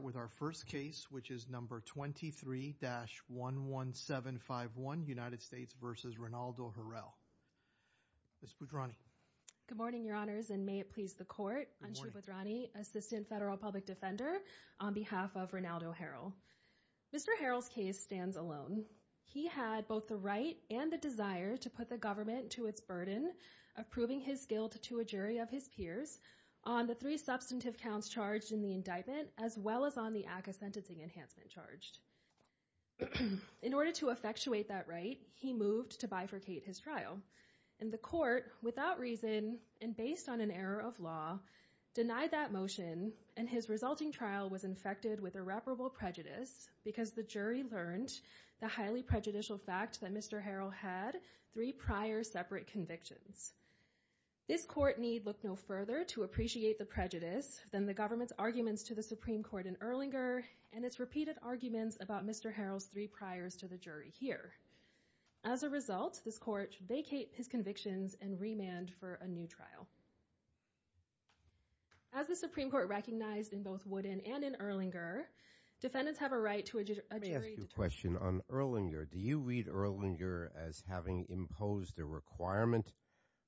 with our first case which is number 23-11751 United States v. Renaldo Harrell. Ms. Budrani. Good morning, your honors, and may it please the court. I'm Shubhudrani, assistant federal public defender on behalf of Renaldo Harrell. Mr. Harrell's case stands alone. He had both the right and the desire to put the government to its burden of proving his guilt to a jury of his peers on the three substantive counts charged in the indictment as well as on the act of sentencing enhancement charged. In order to effectuate that right, he moved to bifurcate his trial. And the court, without reason and based on an error of law, denied that motion and his resulting trial was infected with irreparable prejudice because the jury learned the highly prejudicial fact that Mr. Harrell had three prior separate convictions. This court need look no further to appreciate the prejudice than the government's arguments to the Supreme Court in Erlinger and its repeated arguments about Mr. Harrell's three priors to the jury here. As a result, this court vacate his convictions and remand for a new trial. As the Supreme Court recognized in both Woodin and in Erlinger, defendants have a right to a jury determination. Let me ask you a question on Erlinger. Do you read Erlinger as having imposed a requirement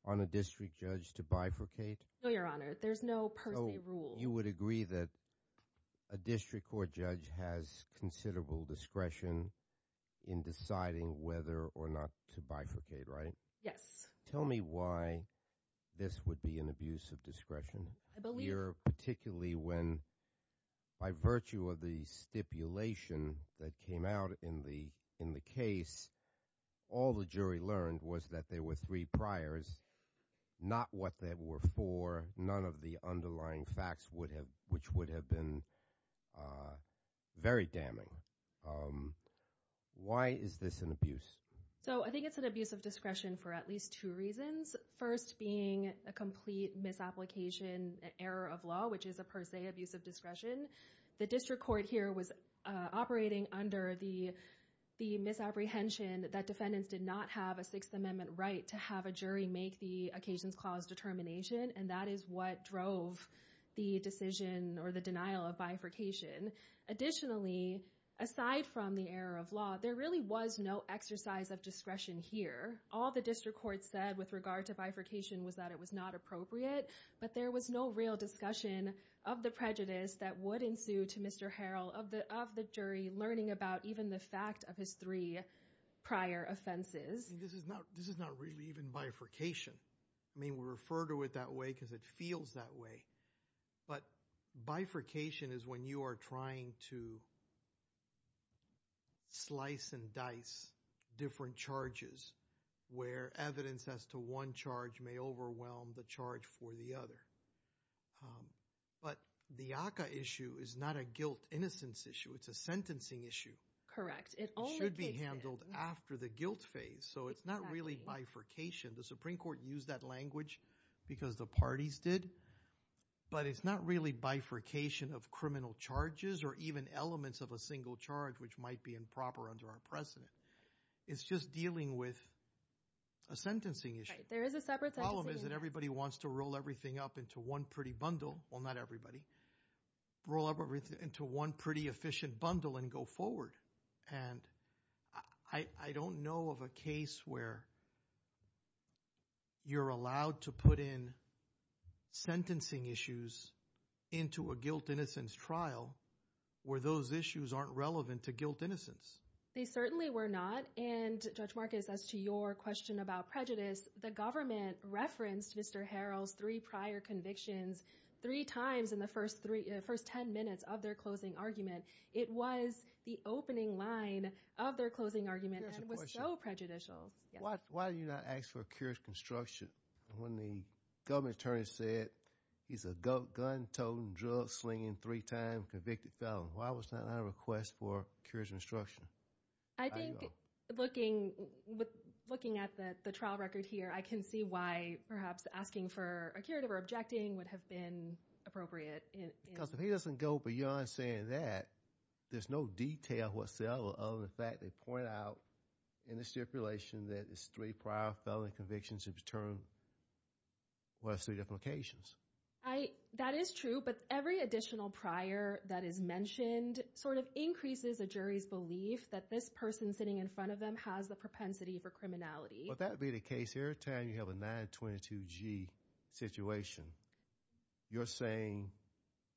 on a district judge to bifurcate? No, Your Honor. There's no per se rule. You would agree that a district court judge has considerable discretion in deciding whether or not to bifurcate, right? Yes. Tell me why this would be an abuse of discretion. I believe. Particularly when by virtue of the stipulation that came out in the case, all the jury learned was that there were three priors, not what they were for, none of the underlying facts would have, which would have been very damning. Why is this an abuse? So I think it's an abuse of discretion for at least two reasons. First being a complete misapplication error of law, which is a per se abuse of discretion. The district court here was operating under the misapprehension that defendants did not have a Sixth Amendment right to have a jury make the occasions clause determination, and that is what drove the decision or the denial of bifurcation. Additionally, aside from the error of law, there really was no exercise of discretion here. All the district court said with regard to bifurcation was that it was not appropriate, but there was no real of the prejudice that would ensue to Mr. Harrell of the jury learning about even the fact of his three prior offenses. This is not really even bifurcation. I mean, we refer to it that way because it feels that way, but bifurcation is when you are trying to slice and dice different charges where evidence as to one charge may overwhelm the charge for the other. But the ACA issue is not a guilt innocence issue. It's a sentencing issue. Correct. It should be handled after the guilt phase, so it's not really bifurcation. The Supreme Court used that language because the parties did, but it's not really bifurcation of criminal charges or even elements of a single charge, which might be improper under our precedent. It's just dealing with a sentencing issue. There is a separate problem is that everybody wants to roll everything up into one pretty bundle. Well, not everybody. Roll up everything into one pretty efficient bundle and go forward. And I don't know of a case where you're allowed to put in sentencing issues into a guilt innocence trial where those issues aren't relevant to guilt innocence. They certainly were not. And Judge Marcus, as to your question about prejudice, the government referenced Mr. Harrell's three prior convictions three times in the first 10 minutes of their closing argument. It was the opening line of their closing argument and was so prejudicial. Why did you not ask for a curious construction when the government attorney said he's a gun-toting, drug-slinging, three-time convicted felon? Why was that not a request for curious construction? I think looking at the trial record here, I can see why perhaps asking for a curative or objecting would have been appropriate. Because if he doesn't go beyond saying that, there's no detail whatsoever other than the fact they point out in the stipulation that it's three prior felony convictions in return for those three different occasions. That is true. But every additional prior that is mentioned sort of increases a jury's belief that this person sitting in front of them has the propensity for criminality. Well, that would be the case every time you have a 922G situation. You're saying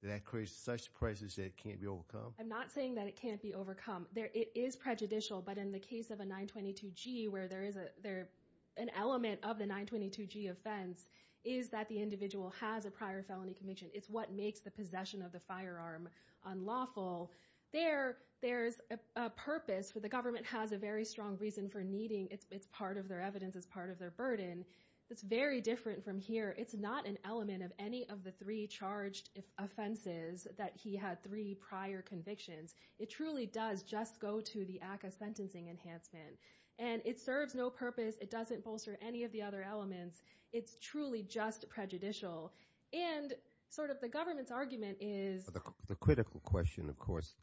that creates such a presence that it can't be overcome? I'm not saying that it can't be overcome. It is prejudicial. But in the case of a 922G, where there is an element of the 922G offense, is that the individual has a prior felony conviction. It's what makes the possession of the firearm unlawful. There, there's a purpose. The government has a very strong reason for needing it. It's part of their evidence. It's part of their burden. It's very different from here. It's not an element of any of the three charged offenses that he had three prior convictions. It truly does just go to the sentencing enhancement. And it serves no purpose. It doesn't bolster any of the other elements. It's truly just prejudicial. And sort of the government's argument is... The critical question, of course,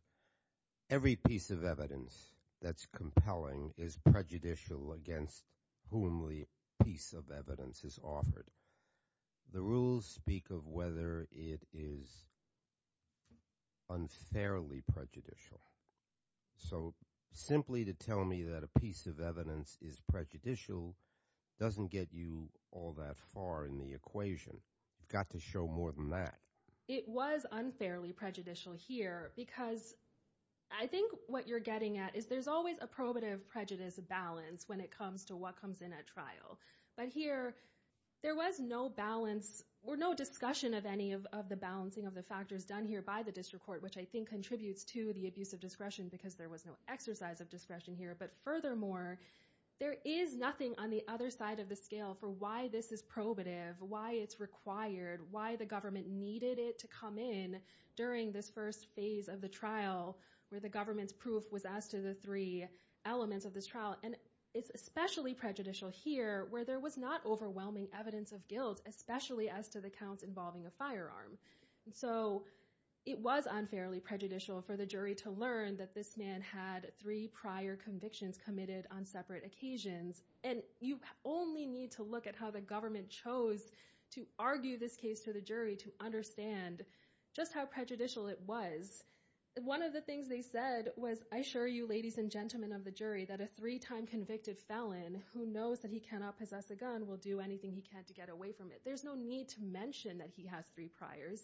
every piece of evidence that's compelling is prejudicial against whom the piece of evidence is offered. The rules speak of whether it is unfairly prejudicial. So simply to tell me that a piece of evidence is prejudicial doesn't get you all that far in the equation. You've got to show more than that. It was unfairly prejudicial here because I think what you're getting at is there's always a probative prejudice balance when it comes to what comes in at trial. But here, there was no balance or no discussion of any of the balancing of the factors done here by the district court, which I think contributes to the abuse of discretion because there was no exercise of discretion here. But furthermore, there is nothing on the other side of the scale for why this is probative, why it's required, why the government needed it to come in during this first phase of the trial where the government's proof was as to the three elements of this trial. And it's especially prejudicial here where there was overwhelming evidence of guilt, especially as to the counts involving a firearm. So it was unfairly prejudicial for the jury to learn that this man had three prior convictions committed on separate occasions. And you only need to look at how the government chose to argue this case to the jury to understand just how prejudicial it was. One of the things they said was, I assure you, ladies and gentlemen of the jury, that a three-time convicted felon who knows he cannot possess a gun will do anything he can to get away from it. There's no need to mention that he has three priors.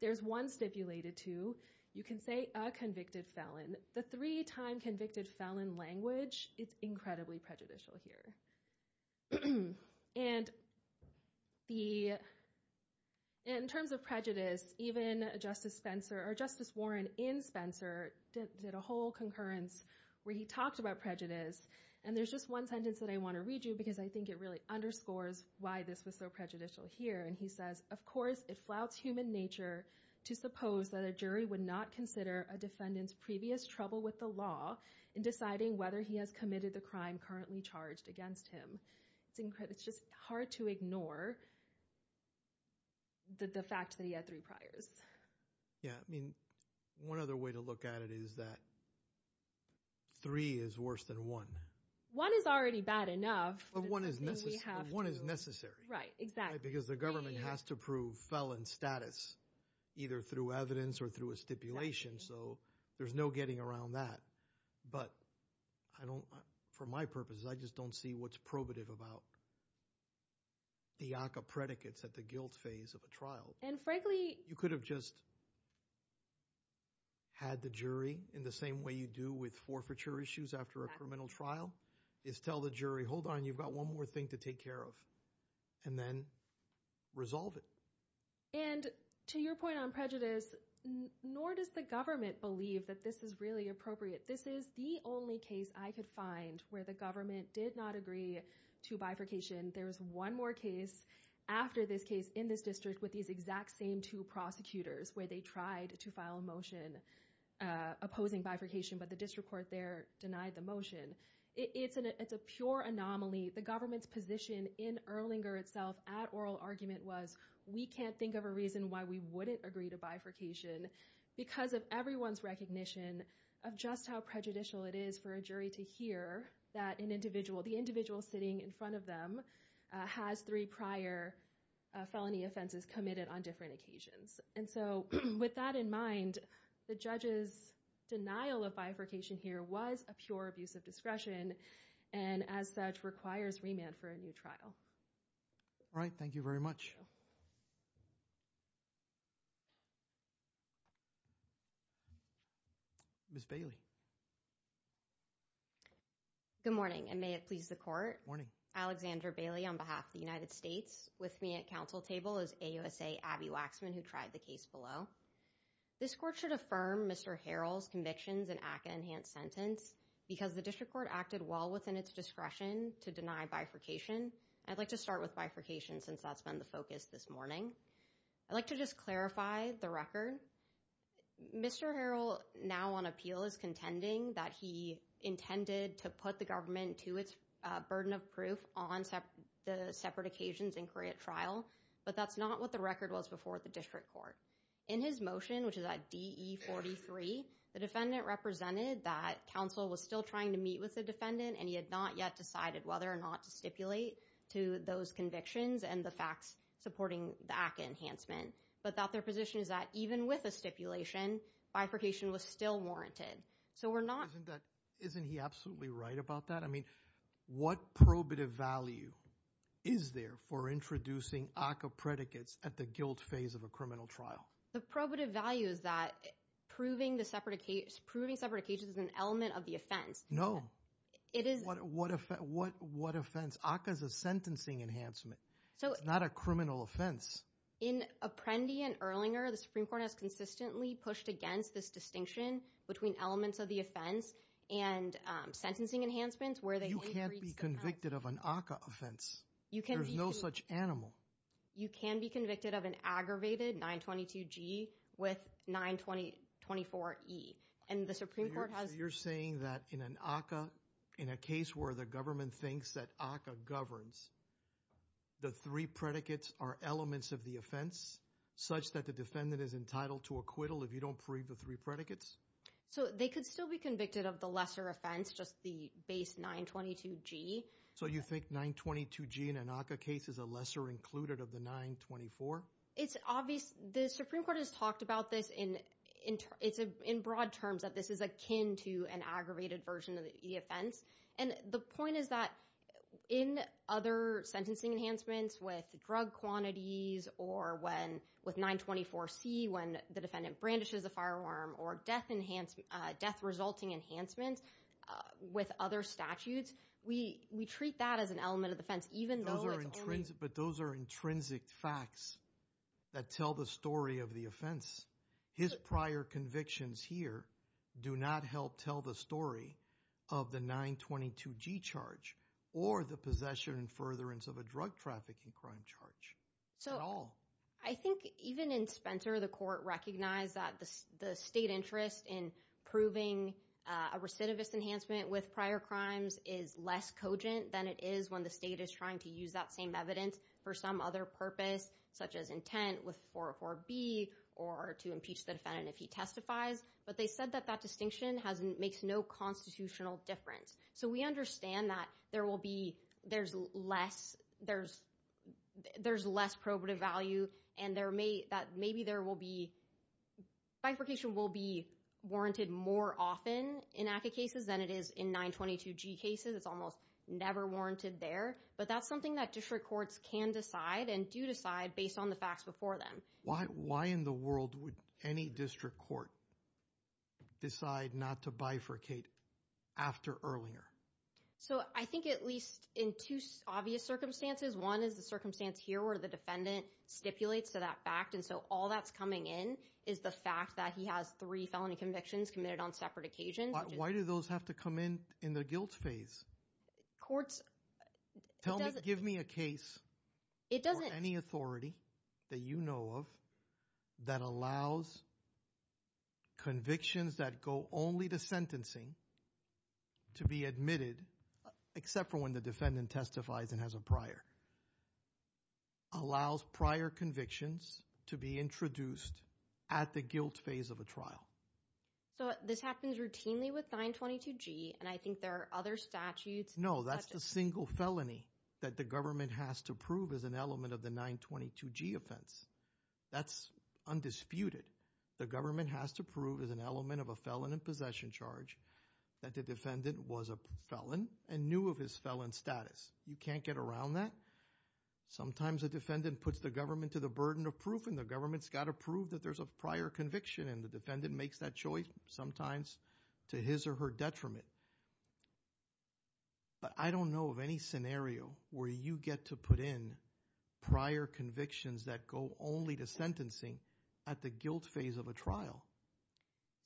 There's one stipulated too. You can say a convicted felon. The three-time convicted felon language, it's incredibly prejudicial here. And in terms of prejudice, even Justice Spencer or Justice Warren in Spencer did a whole concurrence where he talked about prejudice. And there's just one sentence that I want to read you because I think it really underscores why this was so prejudicial here. And he says, of course, it flouts human nature to suppose that a jury would not consider a defendant's previous trouble with the law in deciding whether he has committed the crime currently charged against him. It's just hard to ignore the fact that he had three priors. Yeah, I mean, one other way to look at it is that three is worse than one. One is already bad enough. But one is necessary. Right, exactly. Because the government has to prove felon status either through evidence or through a stipulation. So there's no getting around that. But for my purposes, I just don't see what's probative about the ACA predicates at the guilt phase of a trial. And frankly, you could have just had the jury in the same way you do with forfeiture issues after a criminal trial is tell the jury, hold on, you've got one more thing to take care of and then resolve it. And to your point on prejudice, nor does the government believe that this is really appropriate. This is the only case I could find where the government did not agree to bifurcation. There was one more case after this case in this district with these exact same two prosecutors, where they tried to file a motion opposing bifurcation, but the district court there denied the motion. It's a pure anomaly. The government's position in Erlinger itself, at oral argument, was we can't think of a reason why we wouldn't agree to bifurcation because of everyone's recognition of just how prejudicial it is for a jury to hear that an individual, the individual sitting in front of them, has three prior felony offenses committed on different occasions. And so with that in mind, the judge's denial of bifurcation here was a pure abuse of discretion and as such requires remand for a new trial. All right. Thank you very much. Ms. Bailey. Good morning and may it please the court. Alexandra Bailey on behalf of the United States with me at council table is AUSA Abby Waxman, who tried the case below. This court should affirm Mr. Harrell's convictions and act an enhanced sentence because the district court acted well within its discretion to deny bifurcation. I'd like to start with bifurcation since that's been the focus this morning. I'd like to just clarify the record. Mr. Harrell now on appeal is contending that he intended to put the government to its burden of proof on the separate occasions and create trial, but that's not what the record was before the district court. In his motion, which is at DE-43, the defendant represented that council was still trying to meet with the defendant and he had not yet decided whether or not to stipulate to those convictions and the facts supporting the ACA enhancement, but that their position is that even with a stipulation bifurcation was still warranted. So we're not. Isn't he absolutely right about that? I mean, what probative value is there for introducing ACA predicates at the guilt phase of a criminal trial? The probative value is that proving separate occasions is an element of the offense. No. What offense? ACA is a sentencing enhancement. It's not a criminal offense. In Apprendi and Erlinger, the Supreme Court has consistently pushed against this distinction between elements of the offense and sentencing enhancements where they- You can't be convicted of an ACA offense. There's no such animal. You can be convicted of an aggravated 922G with 924E. And the Supreme Court has- You're saying that in an ACA, in a case where the government thinks that ACA governs, the three predicates are elements of the offense, such that the defendant is entitled to acquittal if you don't prove the three predicates? So they could still be convicted of the lesser offense, just the base 922G. So you think 922G in an ACA case is a lesser included of the 924? It's obvious. The Supreme Court has talked about this in broad terms, that this is akin to an aggravated version of the offense. And the point is that in other sentencing enhancements with drug quantities or with 924C, when the defendant brandishes a firearm, or death resulting enhancements with other statutes, we treat that as an element of the offense, even though it's only- Those are intrinsic facts that tell the story of the offense. His prior convictions here do not help tell the story of the 922G charge, or the possession and furtherance of a drug trafficking crime charge at all. I think even in Spencer, the court recognized that the state interest in proving a recidivist enhancement with prior crimes is less cogent than it is when the state is trying to use that same evidence for some other purpose, such as intent with 404B, or to impeach the defendant if he testifies. But they said that that distinction makes no constitutional difference. So we understand that there will be- There's less- There's less probative value, and maybe there will be- Bifurcation will be warranted more often in ACA cases than it is in 922G cases. It's almost never warranted there. But that's something that district courts can decide and do decide based on the facts before them. Why in the world would any district court decide not to bifurcate after Erlinger? So I think at least in two obvious circumstances, one is the circumstance here where the defendant stipulates to that fact. And so all that's coming in is the fact that he has three felony convictions committed on separate occasions. Why do those have to come in in the guilt phase? Courts- Give me a case- It doesn't- Any authority that you know of that allows convictions that go only to sentencing to be admitted, except for when the defendant testifies and has a prior, allows prior convictions to be introduced at the guilt phase of a trial. So this happens routinely with 922G, and I think there are other statutes- No, that's the single felony that the government has to prove as an element of the 922G offense. That's undisputed. The government has to prove as an element of a felon in possession charge that the defendant was a felon and knew of his felon status. You can't get around that. Sometimes a defendant puts the government to the burden of proof, and the government's got to prove that there's a prior conviction, and the defendant makes that choice, sometimes to his or her detriment. But I don't know of any scenario where you get to put in prior convictions that go only to sentencing at the guilt phase of a trial.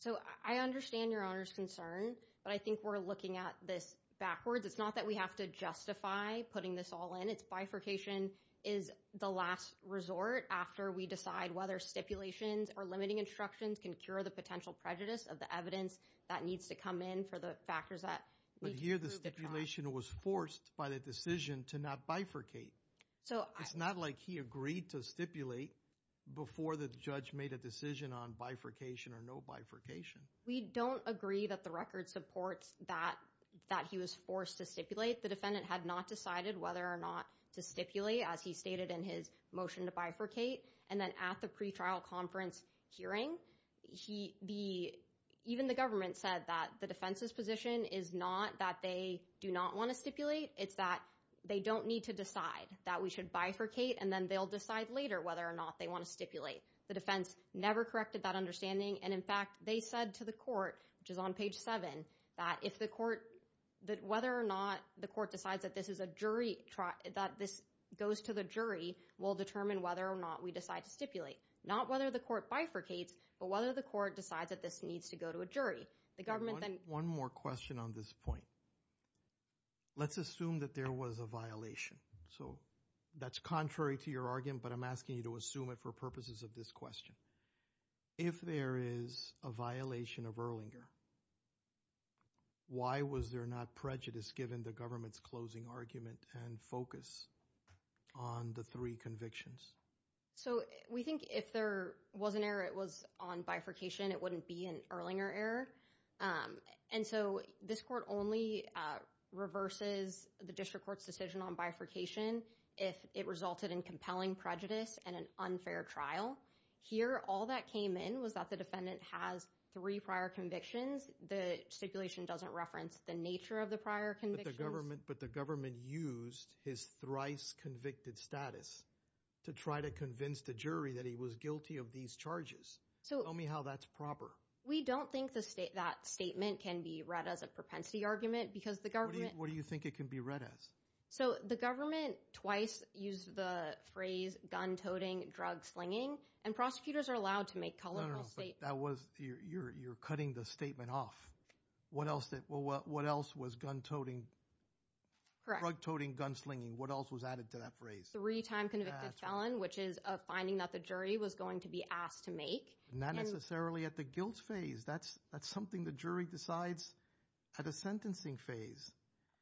So I understand Your Honor's concern, but I think we're looking at this backwards. It's not that we have to justify putting this all in. It's bifurcation is the last resort after we decide whether stipulations or limiting instructions can cure the potential prejudice of the evidence that needs to come in for the factors that- But here, the stipulation was forced by the decision to not bifurcate. It's not like he agreed to stipulate before the judge made a decision on bifurcation or no bifurcation. We don't agree that the record supports that he was forced to stipulate. The defendant had not decided whether or not to stipulate, as he stated in his motion to bifurcate. And then at the pretrial conference hearing, even the government said that the defense's position is not that they do not want to stipulate. It's that they don't need to decide that we should bifurcate, and then they'll decide later whether or not they want to stipulate. The defense never corrected that understanding. And in fact, they said to the court, which is on page seven, that if the court- that whether or not the court decides that this is a jury- that this goes to the jury will determine whether or not we decide to stipulate. Not whether the court bifurcates, but whether the court decides that this needs to go to a jury. The government then- One more question on this point. Let's assume that there was a violation. So that's contrary to your argument, but I'm asking you to assume it for purposes of this question. If there is a violation of Erlinger, why was there not prejudice given the government's closing argument and focus on the three convictions? So we think if there was an error, it was on bifurcation, it wouldn't be an Erlinger error. And so this court only reverses the district court's decision on bifurcation if it resulted in compelling prejudice and an unfair trial. Here, all that came in was that the defendant has three prior convictions. The stipulation doesn't reference the nature of the prior convictions. But the government used his thrice convicted status to try to convince the jury that he was guilty of these charges. So- Tell me how that's proper. We don't think that statement can be read as a propensity argument because the government- What do you think it can be read as? So the government twice used the phrase gun-toting, drug-slinging, and prosecutors are allowed to make colorful statements. That was, you're cutting the statement off. What else was gun-toting, drug-toting, gun-slinging? What else was added to that phrase? Three time convicted felon, which is a finding that the jury was going to be asked to make. Not necessarily at the guilt phase. That's something the jury decides at a sentencing phase.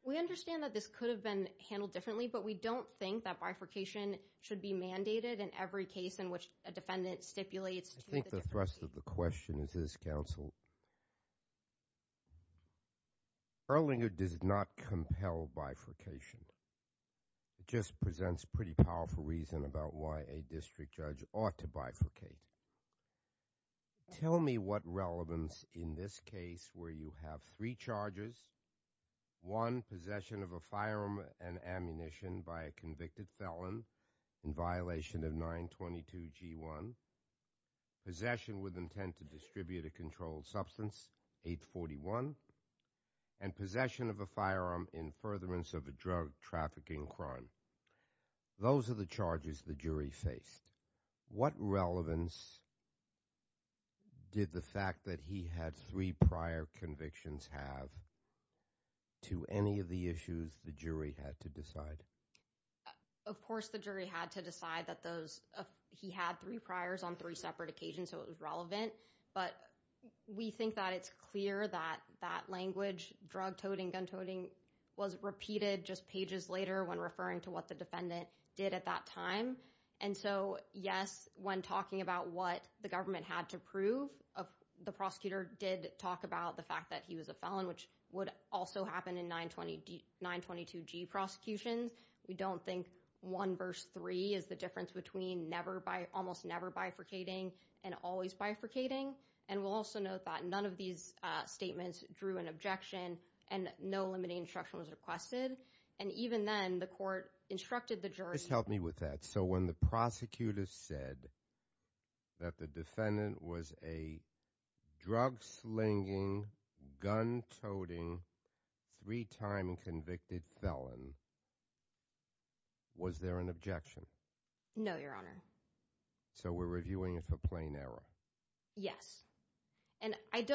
We understand that this could have been handled differently, but we don't think that bifurcation should be mandated in every case in which a defendant stipulates to- I think the thrust of the question is this, counsel. Erlinger does not compel bifurcation. It just presents pretty powerful reason about why a district judge ought to bifurcate. Tell me what relevance in this case where you have three charges, one, possession of a firearm and ammunition by a convicted felon in violation of 922 G1, possession with intent to distribute a controlled substance, 841, and possession of a firearm in furtherance of a drug trafficking crime. Those are the charges the jury faced. What relevance did the fact that he had three prior convictions have to any of the issues the jury had to decide? Of course, the jury had to decide that those- he had three priors on three separate occasions, so it was relevant. But we think that it's clear that that language, drug toting, gun toting, was repeated just pages later when referring to what the defendant did at that time. And so, yes, when talking about what the government had to prove, the prosecutor did talk about the fact that he was a felon, which would also happen in 922 G prosecutions. We don't think one verse three is the difference between never bifurcating and always bifurcating. And we'll also note that none of these statements drew an objection and no limiting instruction was requested. And even then, the court instructed the jury- Just help me with that. So when the prosecutor said that the defendant was a drug slinging, gun toting, three-time convicted felon, was there an objection? No, Your Honor. So we're reviewing it for plain error? Yes. And I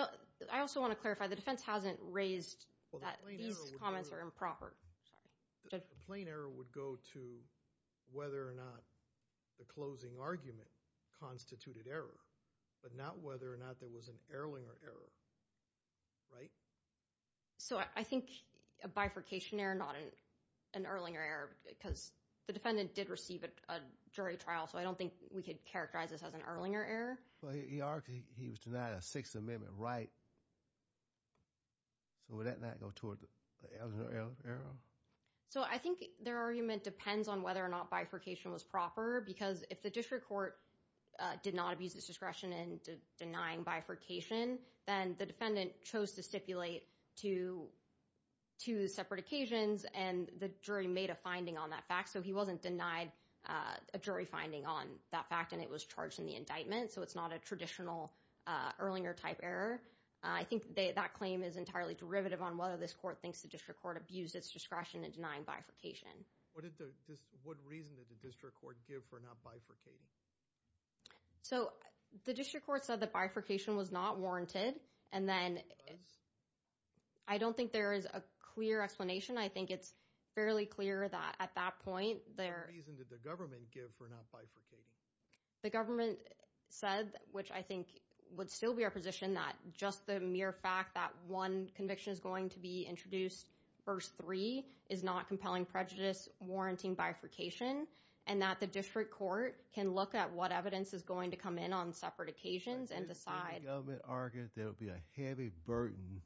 also want to clarify, the defense hasn't raised that these comments are improper. The plain error would go to whether or not the closing argument constituted error, but not whether or not there was an Erlinger error, right? So I think a bifurcation error, not an Erlinger error, because the defendant did receive a jury trial, so I don't think we could characterize this as an Erlinger error. Well, he argued he was denied a Sixth Amendment right. So would that not go toward the Erlinger error? So I think their argument depends on whether or not bifurcation was proper because if the district court did not abuse its discretion in denying bifurcation, then the defendant chose to stipulate two separate occasions and the jury made a finding on that fact. So he wasn't denied a jury finding on that fact and it was charged in the indictment. So it's not a traditional Erlinger-type error. I think that claim is entirely derivative on whether this court thinks the district court abused its discretion in denying bifurcation. What reason did the district court give for not bifurcating? So the district court said that bifurcation was not warranted and then I don't think there is a clear explanation. I think it's fairly clear that at that point there... What reason did the government give for not bifurcating? The government said, which I think would still be our position, that just the mere fact that one conviction is going to be introduced, verse three, is not compelling prejudice warranting bifurcation and that the district court can look at what evidence is going to come in on separate occasions and decide... If the government argued there would be a heavy burden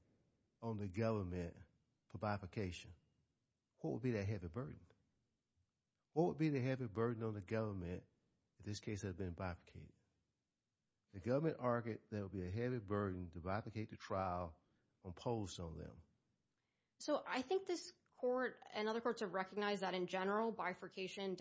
on the government for bifurcation, what would be that heavy burden? What would be the heavy burden on the government in this case that had been bifurcated? The government argued there would be a heavy burden to bifurcate the trial imposed on them. So I think this court and other courts have recognized that in general bifurcation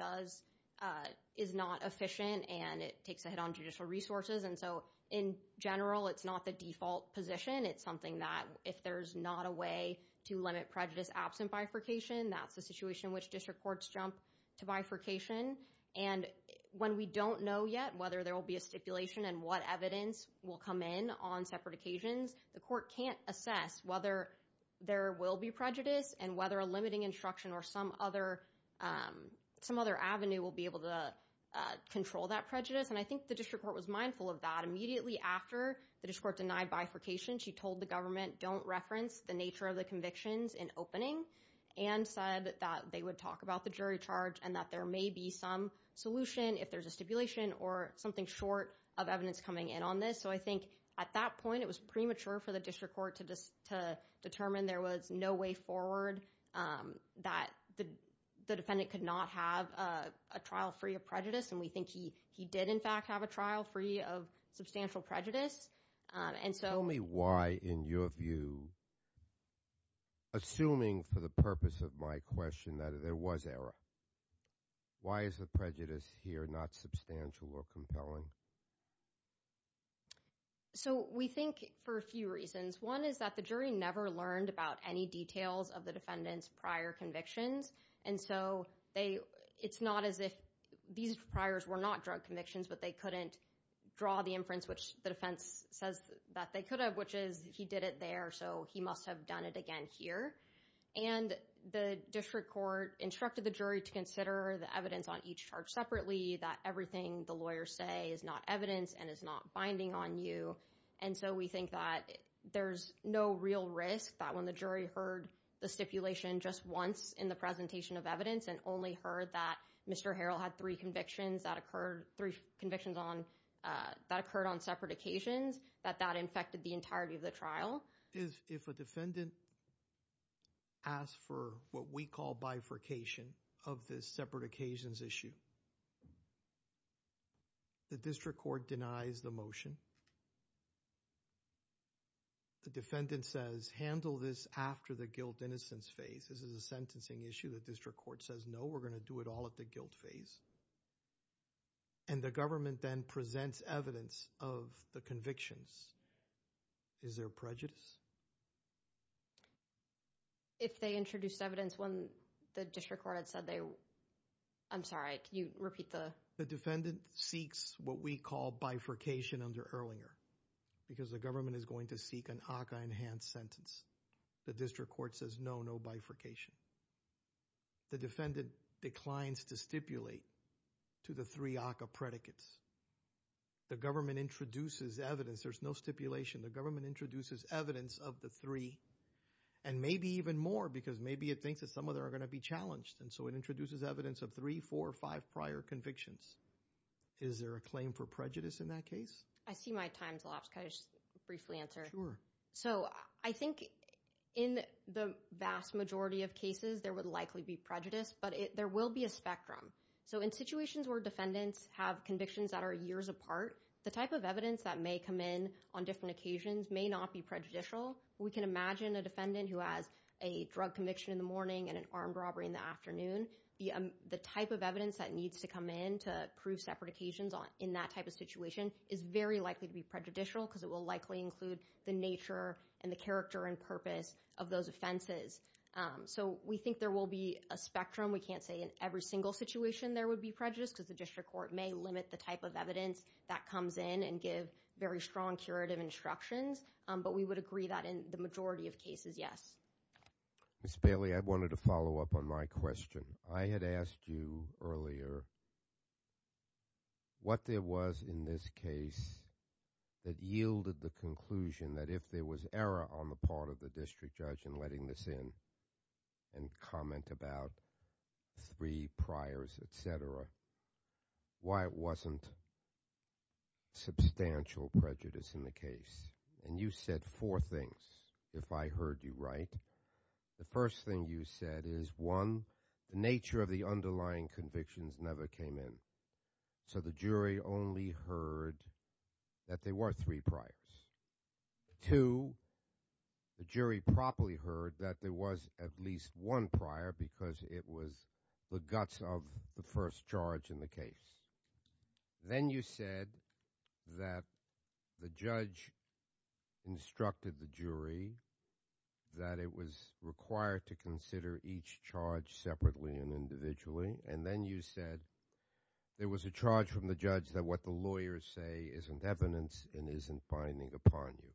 is not efficient and it takes a hit on judicial resources and so in general it's not the default position. It's something that if there's not a way to limit prejudice absent bifurcation, that's the situation in which district courts jump to bifurcation and when we don't know yet whether there will be a stipulation and what evidence will come in on separate occasions, the court can't assess whether there will be prejudice and whether a limiting instruction or some other avenue will be able to control that prejudice and I think the district court was mindful of that. Immediately after the district court denied bifurcation, she told the government don't reference the nature of the convictions in opening and said that they would talk about the jury charge and that there may be some solution if there's a stipulation or something short of evidence coming in on this. So I think at that point it was premature for the district court to determine there was no way forward that the defendant could not have a trial free of prejudice and we think he did in fact have a trial free of substantial prejudice and so... Tell me why in your view, assuming for the purpose of my question, that there was error. Why is the prejudice here not substantial or compelling? So we think for a few reasons. One is that the jury never learned about any details of the defendant's prior convictions and so it's not as if these priors were not drug convictions but they couldn't draw the inference which the defense says that they could have which is he did it there so he must have done it again here and the district court instructed the jury to consider the evidence on each charge separately that everything the lawyers say is not evidence and is not binding on you and so we think that there's no real risk that when the jury heard the stipulation just once in the presentation of evidence and only heard that Mr. Harrell had three convictions that occurred on separate occasions that that infected the entirety of the trial. If a defendant asks for what we call bifurcation of this separate occasions issue, the district court denies the motion. The defendant says handle this after the guilt innocence phase. This is a sentencing issue. The district court says no, we're going to do it all at the guilt phase and the government then presents evidence of the convictions. Is there prejudice? If they introduced evidence when the district court had said they, I'm sorry, can you repeat the? The defendant seeks what we call bifurcation under Erlinger because the government is going to seek an ACA enhanced sentence. The district court says no, no bifurcation. The defendant declines to stipulate to the three ACA predicates. The government introduces evidence there's no stipulation. The government introduces evidence of the three and maybe even more because maybe it thinks that some of them are going to be challenged and so it introduces evidence of three, four or five prior convictions. Is there a claim for prejudice in that case? I see my time's elapsed. Can I just briefly answer? Sure. So I think in the vast majority of cases, there would likely be prejudice, but there will be a spectrum. So in situations where defendants have convictions that are years apart, the type of evidence that may come in on different occasions may not be prejudicial. We can imagine a defendant who has a drug conviction in the morning and an armed robbery in the afternoon. The type of evidence that needs to come in to prove separate occasions in that type of situation is very likely to be prejudicial because it will likely include the nature and the character and purpose of those offenses. So we think there will be a spectrum. We can't say in every single situation there would be prejudice because the district court may limit the type of evidence that comes in and give very strong curative instructions, but we would agree that in the majority of cases, yes. Ms. Bailey, I wanted to follow up on my question. I had asked you earlier what there was in this case that yielded the conclusion that if there was error on the part of the district judge in letting this in and comment about three priors, et cetera, why it wasn't substantial prejudice in the case. And you said four things, if I heard you right. The first thing you said is, one, the nature of the underlying convictions never came in. So the jury only heard that there were three priors. Two, the jury properly heard that there was at least one prior because it was the guts of the first charge in the case. Then you said that the judge instructed the jury that it was required to consider each charge separately and individually. And then you said there was a charge from the judge that what the lawyers say isn't evidence and isn't binding upon you.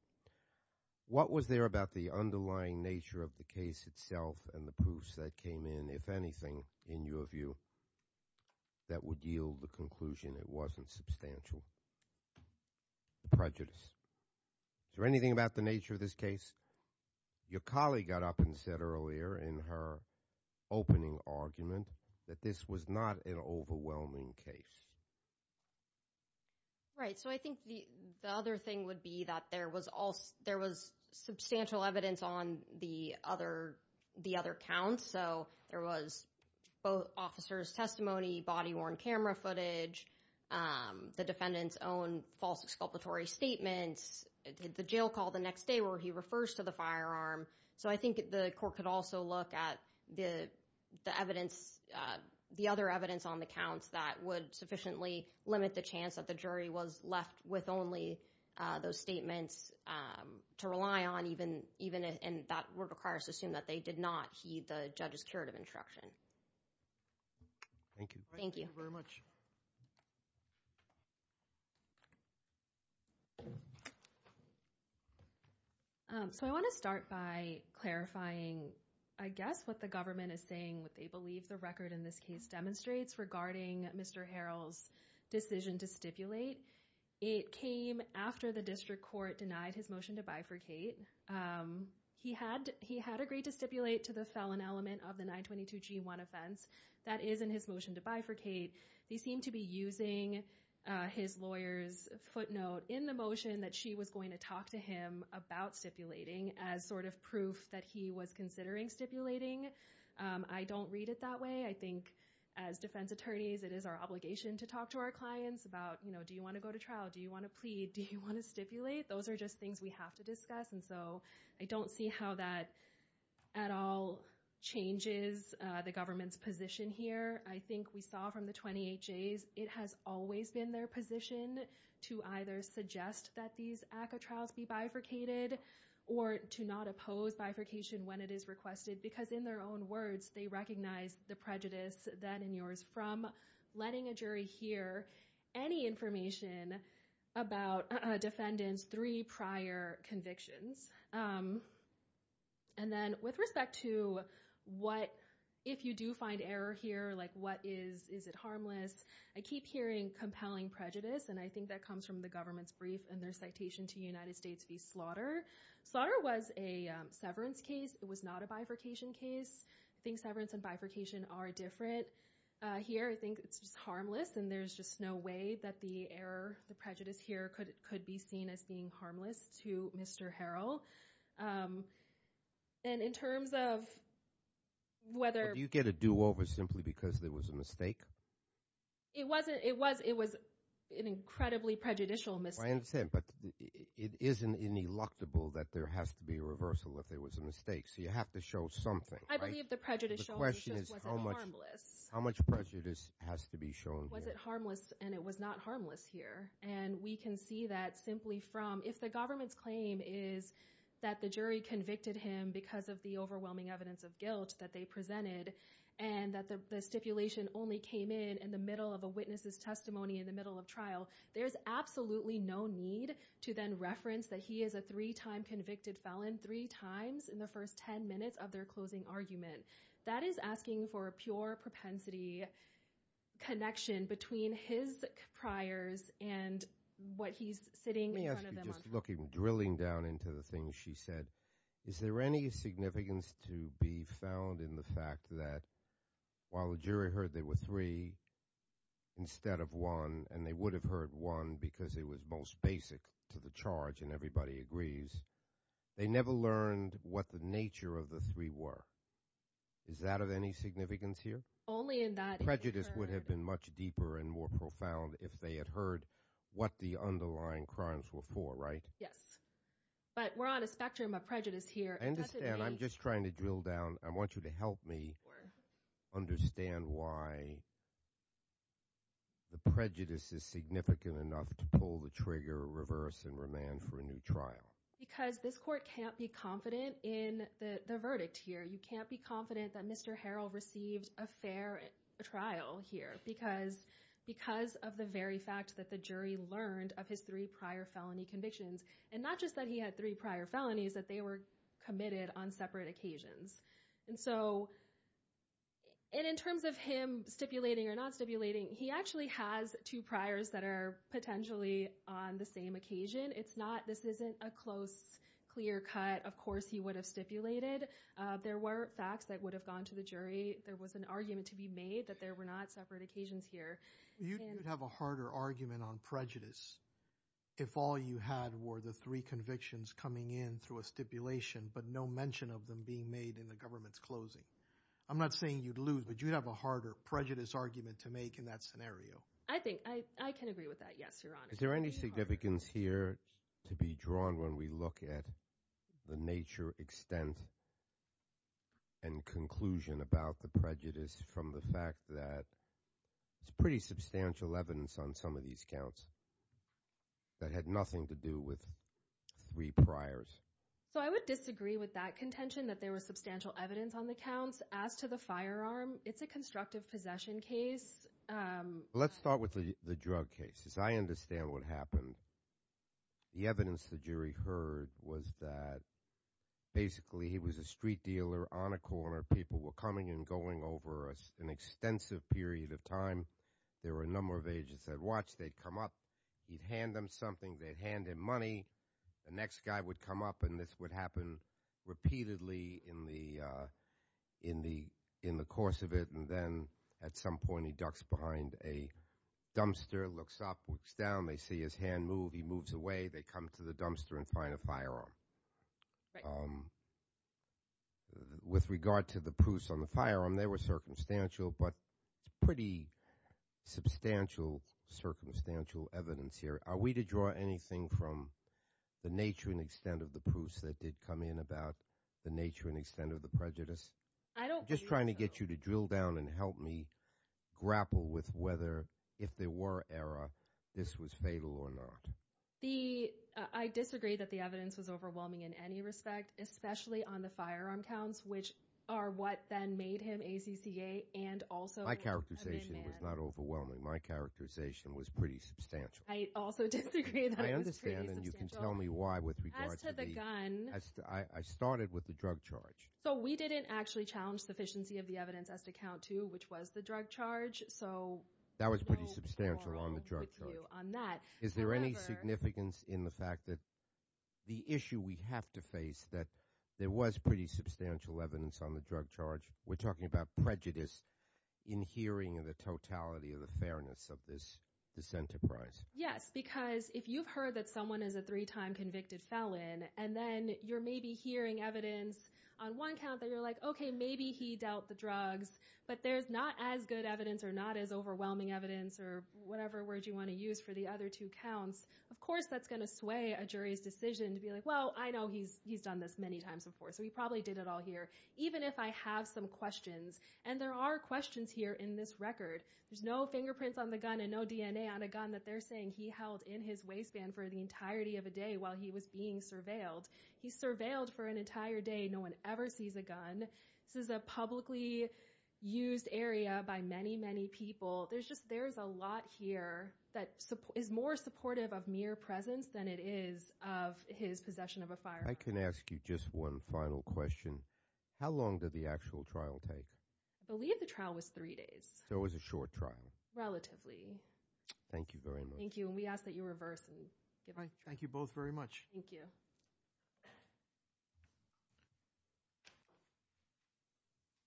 What was there about the underlying nature of the case itself and the proofs that came in, if anything, in your view, that would yield the conclusion it wasn't substantial prejudice? Is there anything about the nature of this case? Your colleague got up and said earlier in her opening argument that this was not an overwhelming case. Right. So I think the other thing would be that there was substantial evidence on the other counts. So there was both officers' testimony, body-worn camera footage, the defendant's own false exculpatory statements, the jail call the next day where he refers to the firearm. So I think the court could also look at the evidence, the other evidence on the counts that would sufficiently limit the chance that the jury was left with only those statements to rely on, and that would require us to assume that they did not heed the judge's curative instruction. Thank you. Thank you very much. So I want to start by clarifying, I guess, what the government is saying, what they believe the record in this case demonstrates regarding Mr. Harrell's decision to stipulate. It came after the district court denied his motion to bifurcate. He had agreed to stipulate to the felon element of the 922G1 offense that is in his motion to bifurcate. They seem to be using his lawyer's footnote in the motion that she was going to talk to him about stipulating as sort of proof that he was considering stipulating. I don't read it that way. I think as defense attorneys, it is our obligation to talk to our clients about, do you want to go to trial? Do you want to plead? Do you want to stipulate? Those are just things we have to discuss. And so I don't see how that at all changes the government's position here. I think we saw from the 28Js, it has always been their position to either suggest that these ACCA trials be bifurcated or to not oppose bifurcation when it is requested because in their own words, they recognize the prejudice that in yours from letting a jury hear any information about a defendant's three prior convictions. And then with respect to what, if you do find error here, like what is, is it harmless? I keep hearing compelling prejudice and I think that comes from the government's brief and their citation to United States v. Slaughter. Slaughter was a severance case. It was not a bifurcation case. I think severance and bifurcation are different. Here, I think it's just harmless and there's just no way that the error, the prejudice here could be seen as being harmless to Mr. Harrell. And in terms of whether- Do you get a do over simply because there was a mistake? It wasn't, it was an incredibly prejudicial mistake. I understand, but it isn't ineluctable that there has to be a reversal if there was a mistake. So you have to show something, right? I believe the prejudicial was harmless. How much prejudice has to be shown? Was it harmless? And it was not harmless here. And we can see that simply from, if the government's claim is that the jury convicted him because of the overwhelming evidence of guilt that they presented and that the stipulation only came in in the middle of a witness's testimony in the middle of trial, there's absolutely no need to then reference that he is a three-time convicted felon three times in the first 10 minutes of their closing argument. That is asking for a pure propensity connection between his priors and what he's sitting- Let me ask you, just looking, drilling down into the things she said, is there any significance to be found in the fact that while the jury heard there were three instead of one, and they would have heard one because it was most basic to the charge and everybody agrees, they never learned what the nature of the three were. Is that of any significance here? Only in that- Prejudice would have been much deeper and more profound if they had heard what the underlying crimes were for, right? Yes. But we're on a spectrum of prejudice here. I understand. I'm just trying to drill down. I want you to help me understand why the prejudice is significant enough to pull the trigger, reverse, and remand for a new trial. Because this court can't be confident in the verdict here. You can't be confident that Mr. Harrell received a fair trial here because of the very fact that the jury learned of his three prior felony convictions. And not just that he had three prior felonies, that they were committed on separate occasions. And so, and in terms of him stipulating or not stipulating, he actually has two priors that are potentially on the same occasion. It's not, this isn't a close, clear cut. Of course, he would have stipulated. There were facts that would have gone to the jury. There was an argument to be made that there were not separate occasions here. You'd have a harder argument on prejudice if all you had were the three convictions coming in through a stipulation, but no mention of them being made in the government's closing. I'm not saying you'd lose, but you'd have a harder prejudice argument to make in that scenario. I think, I can agree with that. Yes, Your Honor. Is there any significance here to be drawn when we look at the nature, extent, and conclusion about the prejudice from the fact that it's pretty substantial evidence on some of these counts that had nothing to do with three priors? So, I would disagree with that contention that there was substantial evidence on the counts. As to the firearm, it's a constructive possession case. Let's start with the drug cases. I understand what happened. The evidence the jury heard was that, basically, he was a street dealer on a corner. People were coming and going over an extensive period of time. There were a number of agents that watched. They'd come up. He'd hand them something. They'd hand him money. The next guy would come up, and this would happen repeatedly in the course of it. And then, at some point, he ducks behind a dumpster, looks up, looks down. They see his hand move. He moves away. They come to the dumpster and find a firearm. With regard to the proofs on the firearm, they were circumstantial, but it's pretty substantial, circumstantial evidence here. Are we to draw anything from the nature and extent of the proofs that did come in about the nature and extent of the prejudice? I'm just trying to get you to drill down and help me grapple with whether, if there were error, this was fatal or not. I disagree that the evidence was overwhelming in any respect, especially on the firearm counts, which are what then made him ACCA and also an inmate. My characterization was not overwhelming. My characterization was pretty substantial. I also disagree that it was pretty substantial. I understand, and you can tell me why with regard to the... As to the gun... I started with the drug charge. So we didn't actually challenge sufficiency of the evidence as to count to, which was the drug charge. That was pretty substantial on the drug charge. Is there any significance in the fact that the issue we have to face that there was pretty substantial evidence on the drug charge? We're talking about prejudice in hearing of the totality of the fairness of this enterprise. Yes, because if you've heard that someone is a three-time convicted felon, and then you're maybe hearing evidence on one count that you're like, okay, maybe he dealt the drugs, but there's not as good evidence or not as overwhelming evidence or whatever word you wanna use for the other two counts, of course, that's gonna sway a jury's decision to be like, well, I know he's done this many times before, so he probably did it all here, even if I have some questions. And there are questions here in this record. There's no fingerprints on the gun and no DNA on a gun that they're saying he held in his waistband for the entirety of a day while he was being surveilled. He surveilled for an entire day. No one ever sees a gun. This is a publicly used area by many, many people. There's just, there's a lot here that is more supportive of mere presence than it is of his possession of a firearm. I can ask you just one final question. How long did the actual trial take? I believe the trial was three days. So it was a short trial? Thank you very much. Thank you, and we ask that you reverse. Thank you both very much. Thank you. Thank you.